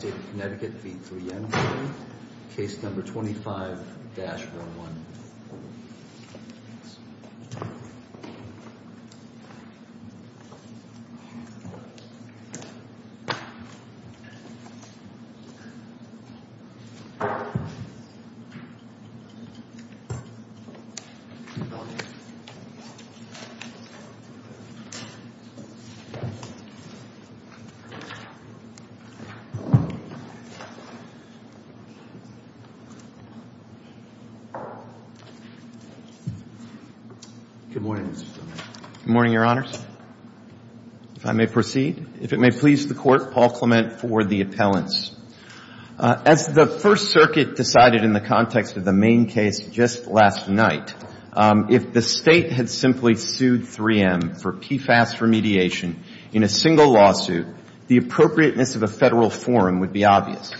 State of Connecticut v. 3M County, Case Number 25-11. Good morning, Mr. Clement. Good morning, Your Honors. If I may proceed. If it may please the Court, Paul Clement for the appellants. As the First Circuit decided in the context of the main case just last night, if the State had simply sued 3M for PFAS remediation in a single lawsuit, the appropriateness of a Federal forum would be obvious.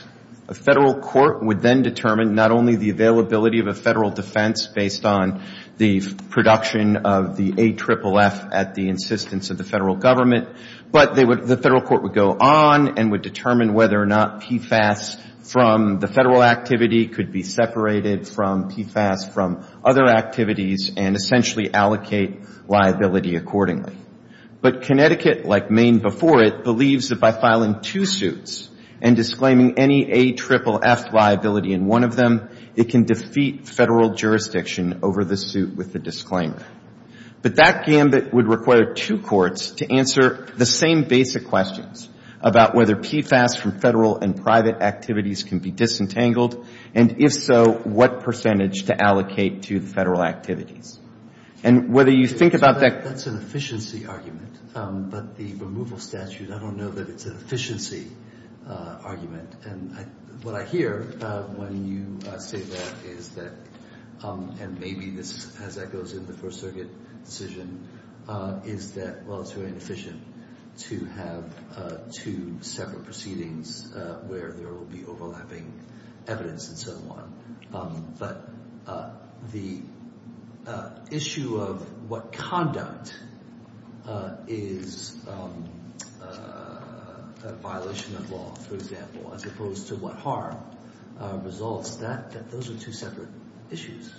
A Federal court would then determine not only the availability of a Federal defense based on the production of the AFFF at the insistence of the Federal government, but the Federal court would go on and would determine whether or not PFAS from the Federal activity could be separated from PFAS from other activities and essentially allocate liability accordingly. But Connecticut, like Maine before it, believes that by filing two suits and disclaiming any AFFF liability in one of them, it can defeat Federal jurisdiction over the suit with the disclaimer. But that gambit would require two courts to answer the same basic questions about whether PFAS from Federal and private activities can be disentangled, and if so, what percentage to allocate to the Federal activities. And whether you think about that That's an efficiency argument, but the removal statute, I don't know that it's an efficiency argument. And what I hear when you say that is that, and maybe as that goes into the First Circuit decision, is that, well, it's very inefficient to have two separate proceedings where there will be overlapping evidence and so on. But the issue of what conduct is a violation of law, for example, as opposed to what harm results, those are two separate issues.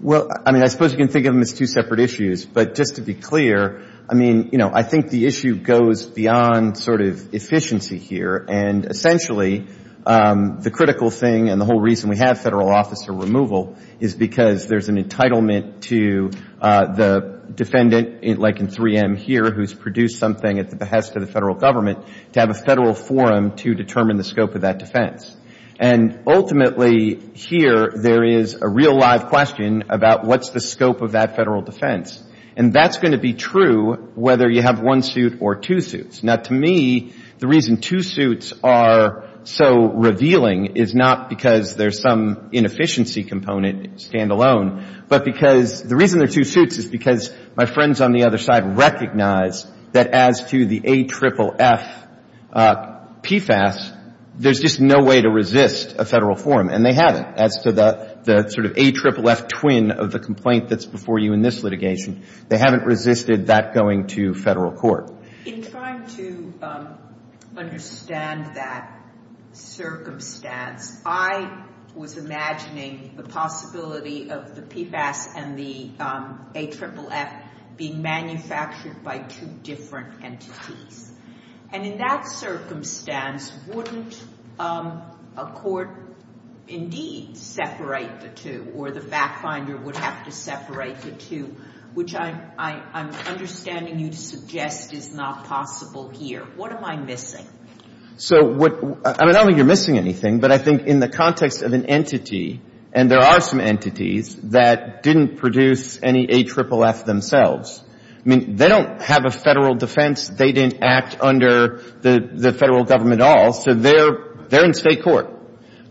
Well, I mean, I suppose you can think of them as two separate issues. But just to be clear, I mean, you know, I think the issue goes beyond sort of efficiency here. And essentially, the critical thing and the whole reason we have Federal officer removal is because there's an entitlement to the defendant, like in 3M here, who's produced something at the behest of the Federal Government, to have a Federal forum to determine the scope of that defense. And ultimately here, there is a real live question about what's the scope of that Federal defense. And that's going to be true whether you have one suit or two suits. Now, to me, the reason two suits are so revealing is not because there's some inefficiency component standalone, but because the reason there are two suits is because my friends on the other side recognize that as to the AFFF PFAS, there's just no way to resist a Federal forum. And they haven't as to the sort of AFFF twin of the complaint that's before you in this litigation, they haven't resisted that going to Federal court. In trying to understand that circumstance, I was imagining the possibility of the PFAS and the AFFF being manufactured by two different entities. And in that circumstance, wouldn't a court indeed separate the two or the back finder would have to separate the two, which I'm understanding you'd suggest is not possible here. What am I missing? So what, I don't think you're missing anything, but I think in the context of an entity, and there are some entities that didn't produce any AFFF themselves. I mean, they don't have a Federal defense. They didn't act under the Federal Government at all. So they're in state court.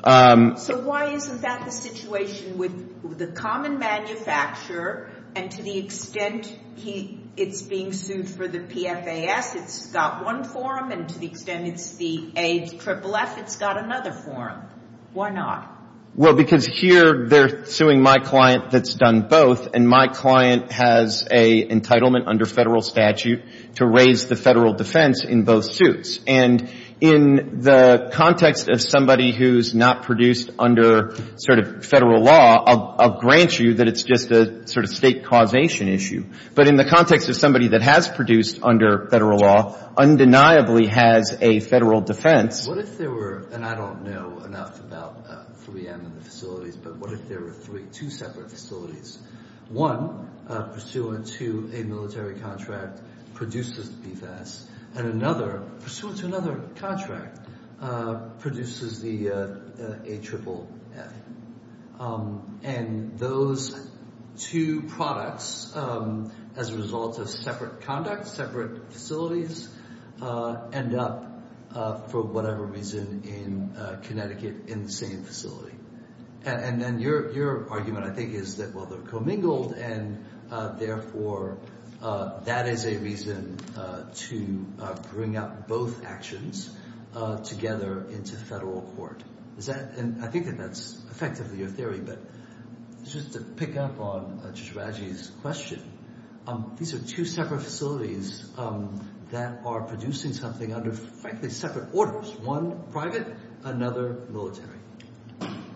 So why isn't that the situation with the common manufacturer and to the extent it's being sued for the PFAS, it's got one forum and to the extent it's the AFFF, it's got another forum. Why not? Well, because here they're suing my client that's done both. And my client has a entitlement under Federal statute to raise the Federal defense in both suits. And in the context of somebody who's not produced under sort of Federal law, I'll grant you that it's just a sort of state causation issue. But in the context of somebody that has produced under Federal law, undeniably has a Federal defense. What if there were, and I don't know enough about 3M and the facilities, but what if there were three, two separate facilities, one pursuant to a military contract produced the PFAS and another pursuant to another contract produces the AFFF. And those two products as a result of separate conduct, separate facilities end up for whatever reason in Connecticut in the same facility. And then your argument I think is that, well, they're commingled and therefore that is a reason to bring up both actions together into Federal court. Is that, and I think that that's effectively your theory, but just to pick up on Chicharajee's question, these are two separate facilities that are producing something under frankly separate orders, one private, another military.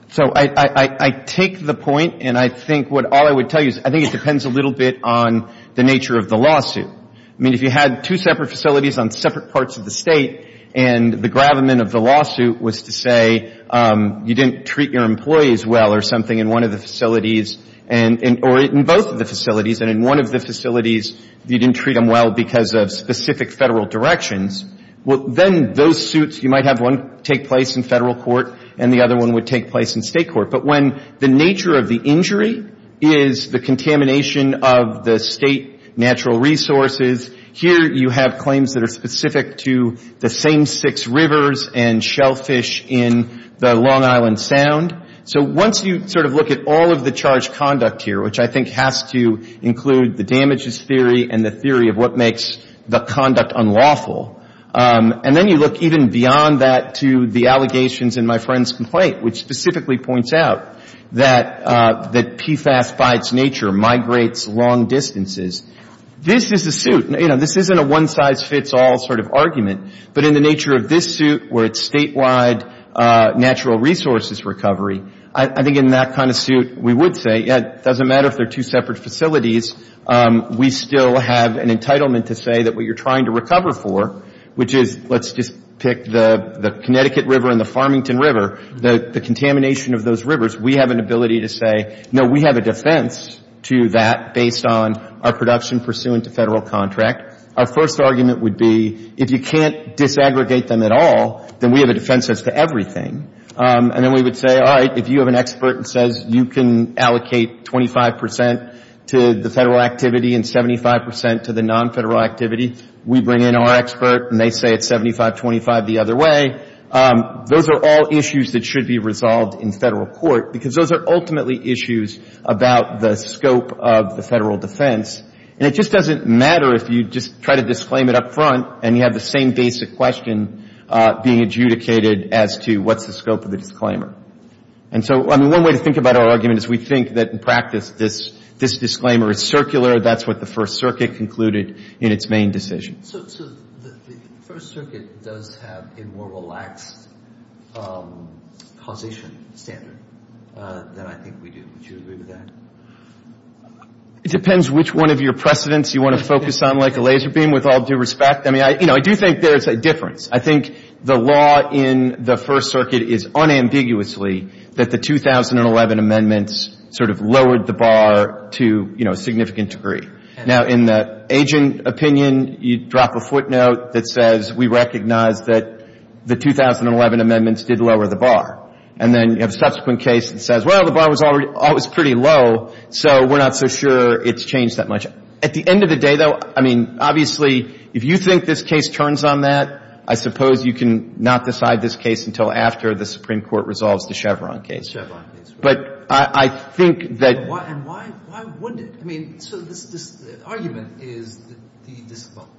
So I take the point and I think what all I would tell you is I think it depends a little bit on the nature of the lawsuit. I mean if you had two separate facilities on separate parts of the state and the gravamen of the lawsuit was to say you didn't treat your employees well or something in one of the facilities or in both of the facilities and in one of the facilities you didn't treat them well because of specific Federal directions, well, then those suits, you might have one take place in Federal court and the other one would take place in state court. But when the nature of the injury is the contamination of the state natural resources, here you have claims that are specific to the same six rivers and shellfish in the Long Island Sound. So once you sort of look at all of the charged conduct here, which I think has to include the damages theory and the theory of what makes the conduct unlawful, and then you look even beyond that to the allegations in my friend's complaint, which specifically points out that PFAS by its nature migrates long distances. This is a suit. This isn't a one size fits all sort of argument. But in the nature of this suit where it's statewide natural resources recovery, I think in that kind of suit we would say, yeah, it doesn't matter if they're two separate facilities, we still have an entitlement to say that what you're trying to recover for, which is let's just pick the Connecticut River and the Farmington River, the contamination of those rivers, we have an ability to say, no, we have a defense to that based on our production pursuant to Federal contract. Our first argument would be if you can't disaggregate them at all, then we have a defense to everything. And then we would say, all right, if you have an expert who says you can allocate 25 percent to the Federal activity and 75 percent to the non-Federal activity, we bring in our expert and they say it's 75-25 the other way, those are all issues that should be resolved in Federal court, because those are ultimately issues about the scope of the Federal defense. And it just doesn't matter if you just try to disclaim it up front and you have the same basic question being adjudicated as to what's the scope of the disclaimer. And so, I mean, one way to think about our argument is we think that in practice this disclaimer is circular, that's what the First Circuit concluded in its main decision. So the First Circuit does have a more relaxed causation standard than I think we do. Would you agree with that? It depends which one of your precedents you want to focus on like a laser beam, with all due respect, I mean, I do think there's a difference. I think the law in the First Circuit is unambiguously that the 2011 amendments sort of lowered the bar to a significant degree. Now, in the agent opinion, you drop a footnote that says we recognize that the 2011 amendments did lower the bar. And then you have a subsequent case that says, well, the bar was always pretty low, so we're not so sure it's changed that much. At the end of the day, though, I mean, obviously, if you think this case turns on that, I suppose you can not decide this case until after the Supreme Court resolves the Chevron case. Chevron case, right. But I think that And why wouldn't it? I mean, so this argument is that the disclaimer,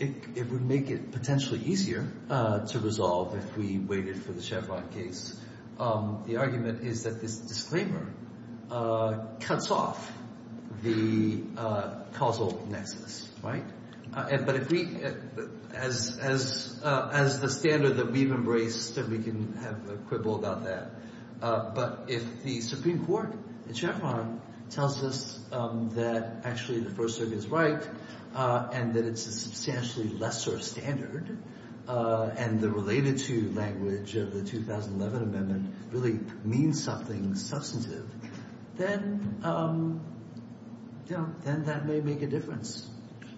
it would make it potentially easier to resolve if we waited for the Chevron case. The argument is that this disclaimer cuts off the causal nexus, right? But if we, as the standard that we've embraced, we can have a quibble about that. But if the Supreme Court in Chevron tells us that actually the First Circuit is right, and that it's a substantially lesser standard, and the related to language of the 2011 amendment really means something substantive, then, you know, then that may make a difference.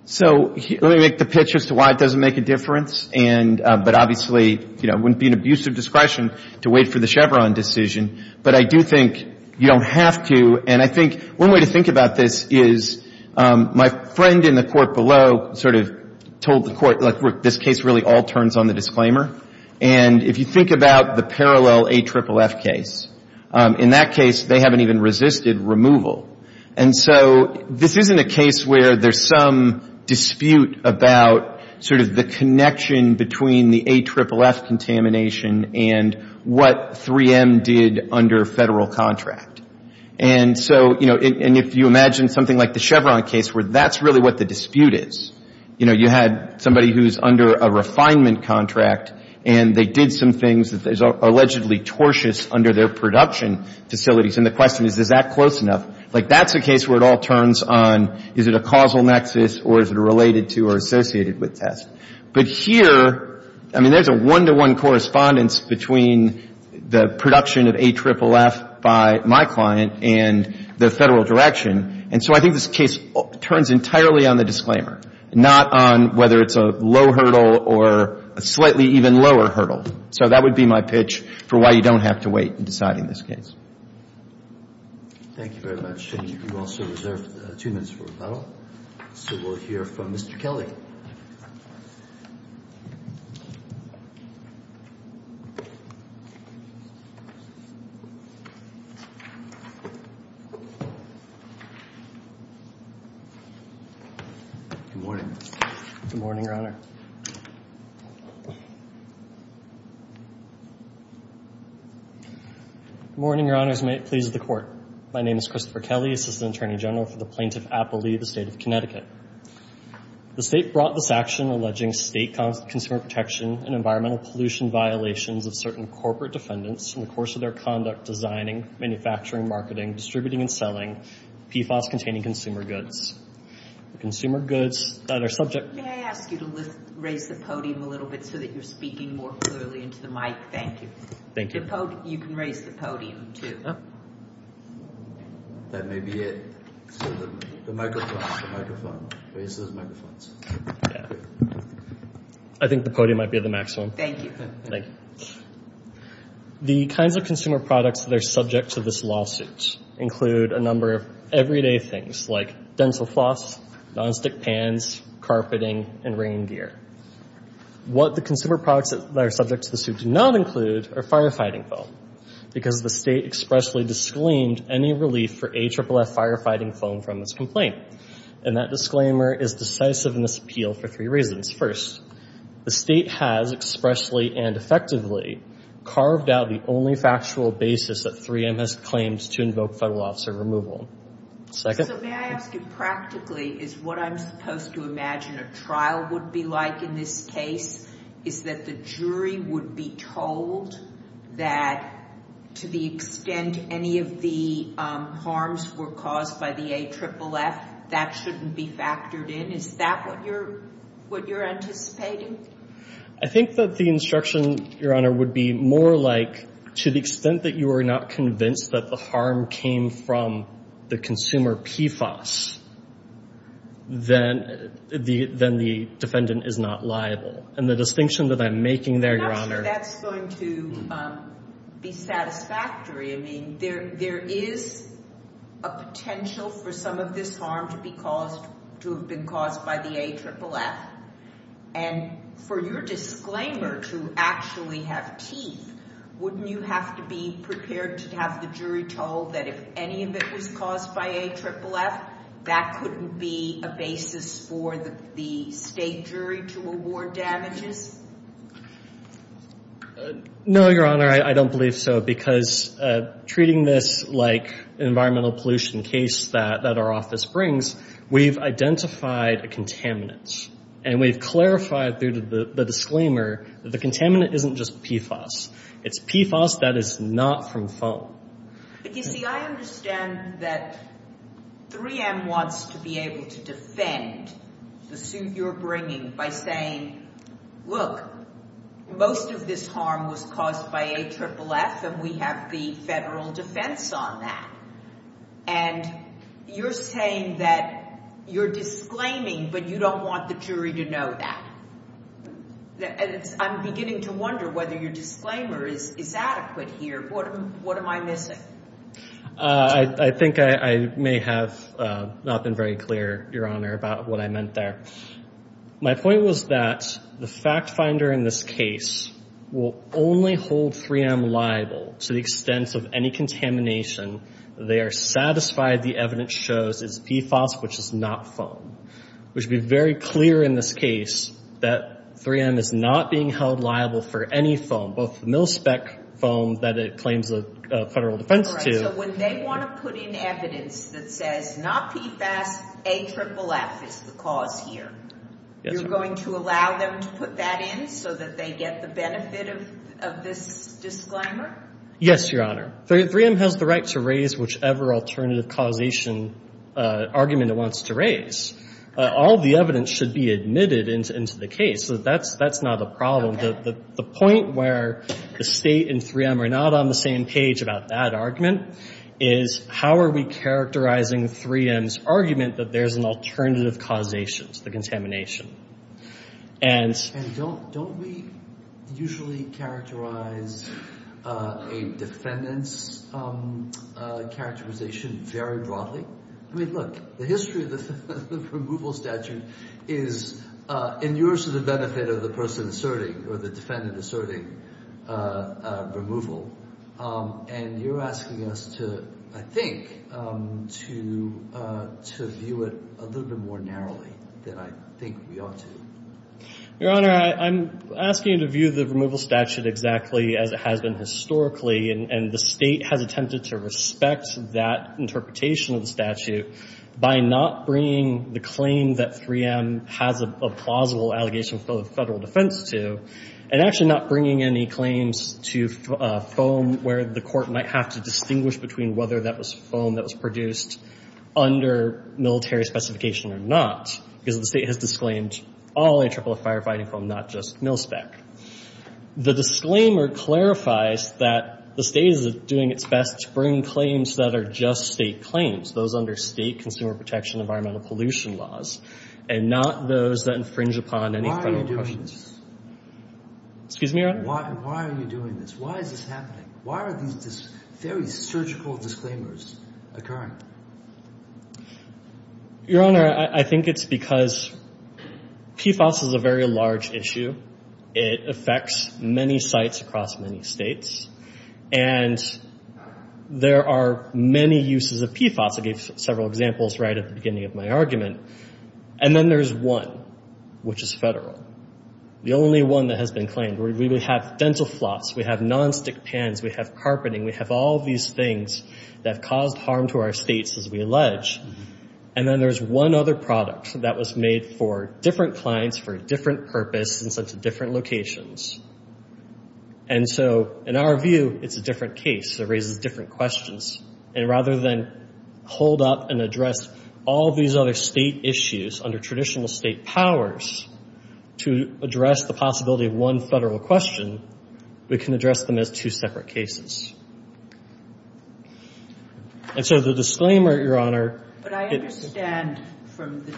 So let me make the pitch as to why it doesn't make a difference. And but obviously, you know, it wouldn't be an abusive discretion to wait for the Chevron decision. But I do think you don't have to. And I think one way to think about this is my friend in the court below sort of told the court, like, look, this case really all turns on the disclaimer. And if you think about the parallel AFFF case, in that case, they haven't even resisted removal. And so this isn't a case where there's some dispute about sort of the connection between the AFFF contamination and what 3M did under Federal contract. And so, you know, and if you imagine something like the Chevron case where that's really what the dispute is. You know, you had somebody who's under a refinement contract, and they did some things that are allegedly tortious under their production facilities. And the question is, is that close enough? Like, that's a case where it all turns on is it a causal nexus or is it a related to or associated with test. But here, I mean, there's a one-to-one correspondence between the production of AFFF by my client and the Federal direction. And so I think this case turns entirely on the disclaimer, not on whether it's a low hurdle or a slightly even lower hurdle. So that would be my pitch for why you don't have to wait in deciding this case. Thank you very much. And you also reserve two minutes for rebuttal. So we'll hear from Mr. Kelly. Good morning. Good morning, Your Honor. Good morning, Your Honors. May it please the Court. My name is Christopher Kelly, Assistant Attorney General for the Plaintiff Appellee of the State of Connecticut. The State brought this action alleging State consumer protection and environmental pollution violations of certain corporate defendants in the course of their conduct designing, manufacturing, marketing, distributing, and selling PFAS-containing consumer goods. Consumer goods that are subject... May I ask you to raise the podium a little bit so that you're speaking more clearly into the mic? Thank you. Thank you. You can raise the podium, too. That may be it. The microphone, the microphone. Raise those microphones. I think the podium might be the maximum. Thank you. The kinds of consumer products that are subject to this lawsuit include a number of everyday things like dental floss, nonstick pans, carpeting, and rain gear. What the consumer products that are subject to this suit do not include are firefighting foam because the State expressly disclaimed any relief for AFFF firefighting foam from this complaint. And that disclaimer is decisive in this appeal for three reasons. First, the State has expressly and effectively carved out the only factual basis that 3M has claimed to invoke federal officer removal. Second? So may I ask you practically, is what I'm supposed to imagine a trial would be like in this case? Is that the jury would be told that to the extent any of the harms were caused by the AFFF, that shouldn't be factored in? Is that what you're anticipating? I think that the instruction, Your Honor, would be more like to the extent that you are not convinced that the harm came from the consumer PFOS, then the defendant is not liable. And the distinction that I'm making there, Your Honor— I'm not sure that's going to be satisfactory. I mean, there is a potential for some of this harm to have been caused by the AFFF. And for your disclaimer to actually have teeth, wouldn't you have to be prepared to have the jury told that if any of it was caused by AFFF, that couldn't be a basis for the State jury to award damages? No, Your Honor, I don't believe so. Because treating this like an environmental pollution case that our office brings, we've identified a contaminant. And we've clarified through the disclaimer that the contaminant isn't just PFOS. It's PFOS that is not from foam. But you see, I understand that 3M wants to be able to defend the suit you're bringing by saying, look, most of this harm was caused by AFFF, and we have the federal defense on that. And you're saying that you're disclaiming, but you don't want the jury to know that. I'm beginning to wonder whether your disclaimer is adequate here. What am I missing? I think I may have not been very clear, Your Honor, about what I meant there. My point was that the fact finder in this case will only hold 3M liable to the extent of any contamination. They are satisfied the evidence shows it's PFOS, which is not foam. We should be very clear in this case that 3M is not being held liable for any foam, both mil-spec foam that it claims the federal defense to. So when they want to put in evidence that says not PFOS, AFFF is the cause here. You're going to allow them to put that in so that they get the benefit of this disclaimer? Yes, Your Honor. 3M has the right to raise whichever alternative causation argument it wants to raise. All the evidence should be admitted into the case. That's not a problem. The point where the State and 3M are not on the same page about that argument is how are we characterizing 3M's argument that there's an alternative causation to the contamination. And don't we usually characterize a defendant's characterization very broadly? I mean, look, the history of the removal statute is in your sort of benefit of the person asserting or the defendant asserting removal. And you're asking us to, I think, to view it a little bit more narrowly than I think we ought to. Your Honor, I'm asking you to view the removal statute exactly as it has been historically. And the State has attempted to respect that interpretation of the statute by not bringing the claim that 3M has a plausible allegation of federal defense to and actually not bringing any claims to foam where the court might have to distinguish between whether that was foam that was produced under military specification or not because the State has disclaimed all A-triple-F firefighting foam, not just mil-spec. The disclaimer clarifies that the State is doing its best to bring claims that are just State claims, those under State consumer protection environmental pollution laws, and not those that infringe upon any federal protections. Excuse me, Your Honor? Why are you doing this? Why is this happening? Why are these very surgical disclaimers occurring? Your Honor, I think it's because PFAS is a very large issue. It affects many sites across many States. And there are many uses of PFAS. I gave several examples right at the beginning of my argument. And then there's one, which is federal. The only one that has been claimed. We have dental floss. We have nonstick pans. We have carpeting. We have all these things that have caused harm to our States, as we allege. And then there's one other product that was made for different clients for a different purpose and sent to different locations. And so, in our view, it's a different case. It raises different questions. And rather than hold up and address all these other State issues under traditional State powers to address the possibility of one federal question, we can address them as two separate cases. And so the disclaimer, Your Honor, But I understand from the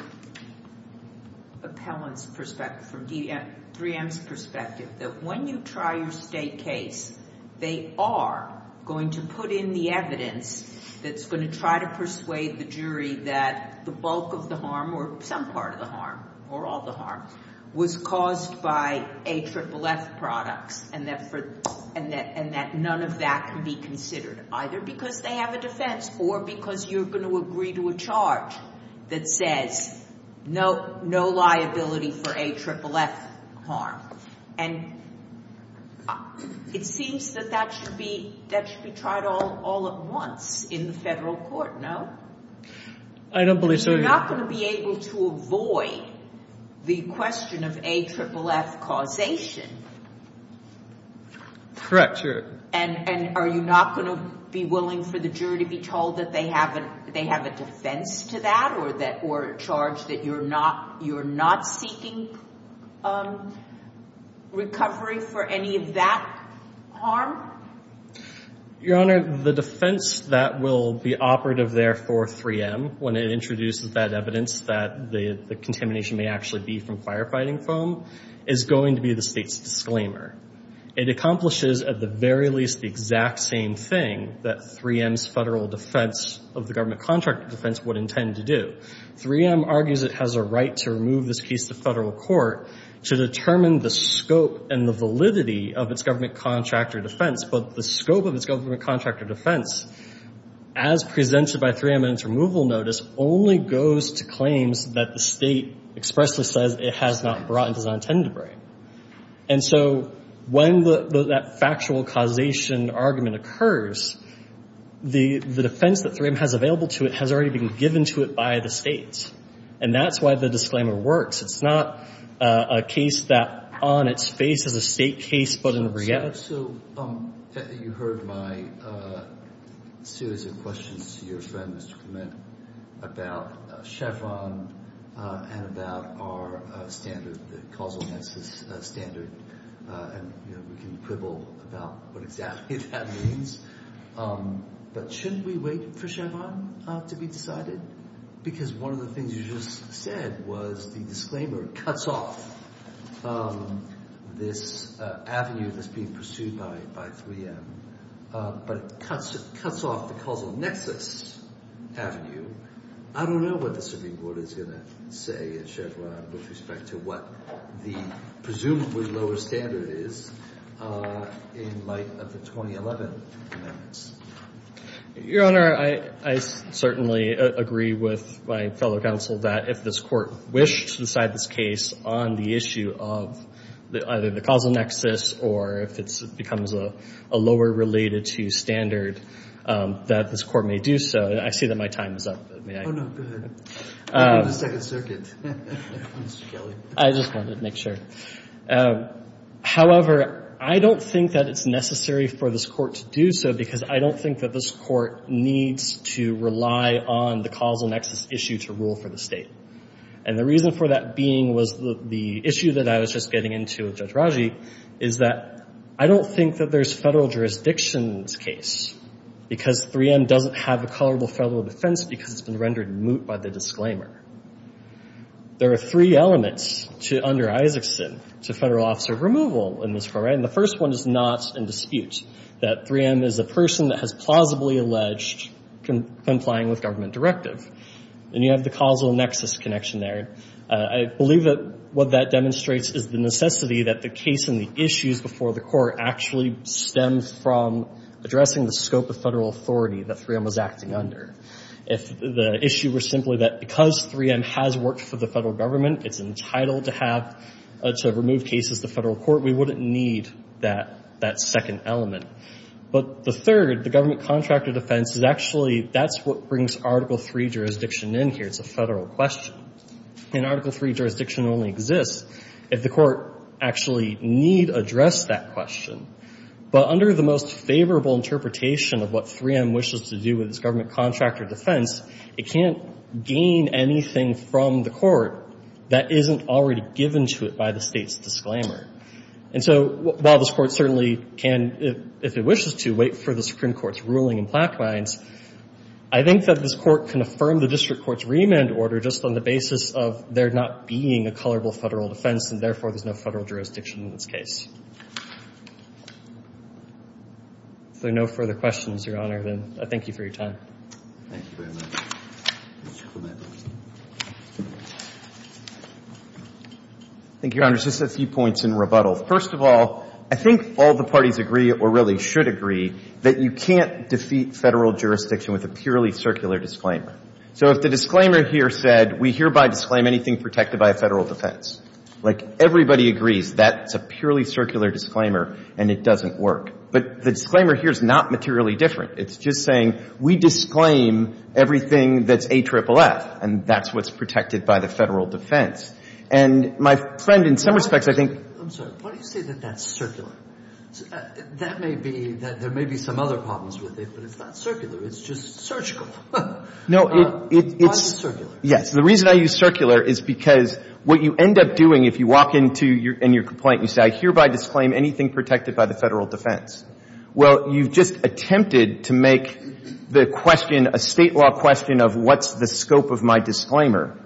appellant's perspective, from 3M's perspective, that when you try your State case, they are going to put in the evidence that's going to try to persuade the jury that the bulk of the harm, or some part of the harm, or all the harm, was caused by AFFF products, and that none of that can be considered, either because they have a defense or because you're going to agree to a charge that says no liability for AFFF harm. And it seems that that should be tried all at once in the federal court, no? I don't believe so, Your Honor. So you're not going to be able to avoid the question of AFFF causation? Correct, Your Honor. And are you not going to be willing for the jury to be told that they have a defense to that or a charge that you're not seeking recovery for any of that harm? Your Honor, the defense that will be operative there for 3M when it introduces that evidence that the contamination may actually be from firefighting foam is going to be the State's disclaimer. It accomplishes at the very least the exact same thing that 3M's federal defense of the government contractor defense would intend to do. 3M argues it has a right to remove this case to federal court to determine the scope and the validity of its government contractor defense. But the scope of its government contractor defense, as presented by 3M in its removal notice, only goes to claims that the State expressly says it has not brought and does not intend to bring. And so when that factual causation argument occurs, the defense that 3M has available to it has already been given to it by the State. And that's why the disclaimer works. It's not a case that on its face is a State case but in reality. So you heard my series of questions to your friend, Mr. Clement, about Chevron and about our standard, the causal analysis standard, and we can quibble about what exactly that means. But shouldn't we wait for Chevron to be decided? Because one of the things you just said was the disclaimer cuts off this avenue that's being pursued by 3M. But it cuts off the causal nexus avenue. I don't know what the Supreme Court is going to say at Chevron with respect to what the presumably lower standard is in light of the 2011 amendments. Your Honor, I certainly agree with my fellow counsel that if this Court wished to decide this case on the issue of either the causal nexus or if it becomes a lower related to standard, that this Court may do so. I see that my time is up. May I? Oh, no, go ahead. Go to the Second Circuit, Mr. Kelly. I just wanted to make sure. However, I don't think that it's necessary for this Court to do so because I don't think that this Court needs to rely on the causal nexus issue to rule for the State. And the reason for that being was the issue that I was just getting into with Judge Raji is that I don't think that there's federal jurisdictions case because 3M doesn't have a colorable federal defense because it's been rendered moot by the disclaimer. There are three elements under Isaacson to federal officer removal in this Court, right? And the first one is not in dispute, that 3M is a person that has plausibly alleged complying with government directive. And you have the causal nexus connection there. I believe that what that demonstrates is the necessity that the case and the issues before the Court actually stem from addressing the scope of federal authority that 3M was acting under. If the issue were simply that because 3M has worked for the federal government, it's entitled to have to remove cases to the federal court, we wouldn't need that second element. But the third, the government contractor defense, is actually, that's what brings Article III jurisdiction in here. It's a federal question. And Article III jurisdiction only exists if the Court actually need address that question. But under the most favorable interpretation of what 3M wishes to do with its government contractor defense, it can't gain anything from the Court that isn't already given to it by the State's disclaimer. And so while this Court certainly can, if it wishes to, wait for the Supreme Court's ruling in Plaquemines, I think that this Court can affirm the district court's remand order just on the basis of there not being a colorable federal defense and, therefore, there's no federal jurisdiction in this case. If there are no further questions, Your Honor, then I thank you for your time. Thank you very much. Thank you, Your Honor. Just a few points in rebuttal. First of all, I think all the parties agree, or really should agree, that you can't defeat federal jurisdiction with a purely circular disclaimer. So if the disclaimer here said, we hereby disclaim anything protected by a federal defense, like, everybody agrees that's a purely circular disclaimer and it doesn't work. But the disclaimer here is not materially different. It's just saying we disclaim everything that's AFFF, and that's what's protected by the federal defense. And my friend, in some respects, I think — I'm sorry. Why do you say that that's circular? That may be that there may be some other problems with it, but it's not circular. It's just surgical. No, it's — Why is it circular? Yes. The reason I use circular is because what you end up doing, if you walk into your — in your complaint, you say, I hereby disclaim anything protected by the federal defense. Well, you've just attempted to make the question a state law question of what's the scope of my disclaimer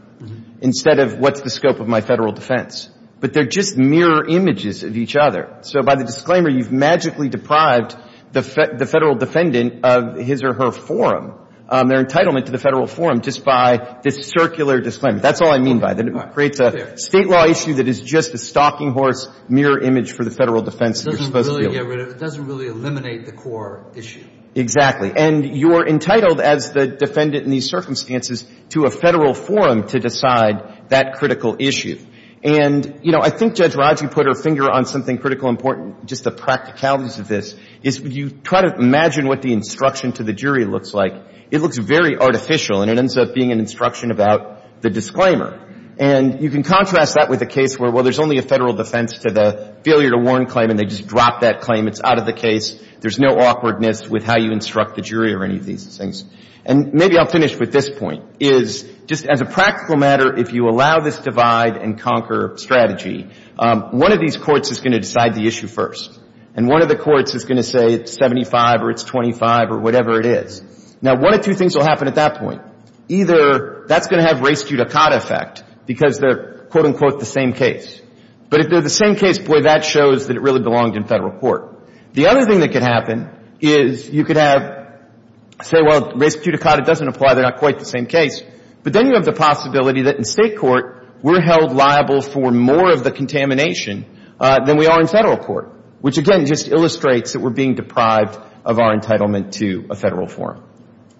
instead of what's the scope of my federal defense. But they're just mirror images of each other. So by the disclaimer, you've magically deprived the federal defendant of his or her forum, their entitlement to the federal forum, just by this circular disclaimer. That's all I mean by that. It creates a state law issue that is just a stalking horse mirror image for the federal defense. It doesn't really get rid of — it doesn't really eliminate the core issue. Exactly. And you're entitled, as the defendant in these circumstances, to a federal forum to decide that critical issue. And, you know, I think Judge Raju put her finger on something critical important, just the practicalities of this, is you try to imagine what the instruction to the jury looks like. It looks very artificial, and it ends up being an instruction about the disclaimer. And you can contrast that with a case where, well, there's only a federal defense to the failure to warn claim, and they just drop that claim. It's out of the case. There's no awkwardness with how you instruct the jury or any of these things. And maybe I'll finish with this point, is just as a practical matter, if you allow this divide-and-conquer strategy, one of these courts is going to decide the issue first. And one of the courts is going to say it's 75 or it's 25 or whatever it is. Now, one of two things will happen at that point. Either that's going to have res judicata effect because they're, quote, unquote, the same case. But if they're the same case, boy, that shows that it really belonged in federal court. The other thing that could happen is you could have — say, well, res judicata doesn't apply. They're not quite the same case. But then you have the possibility that in state court we're held liable for more of the contamination than we are in federal court, which, again, just illustrates that we're being deprived of our entitlement to a federal forum.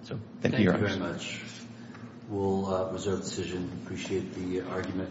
So thank you, Your Honor. Thank you very much. We'll reserve the decision. Appreciate the argument.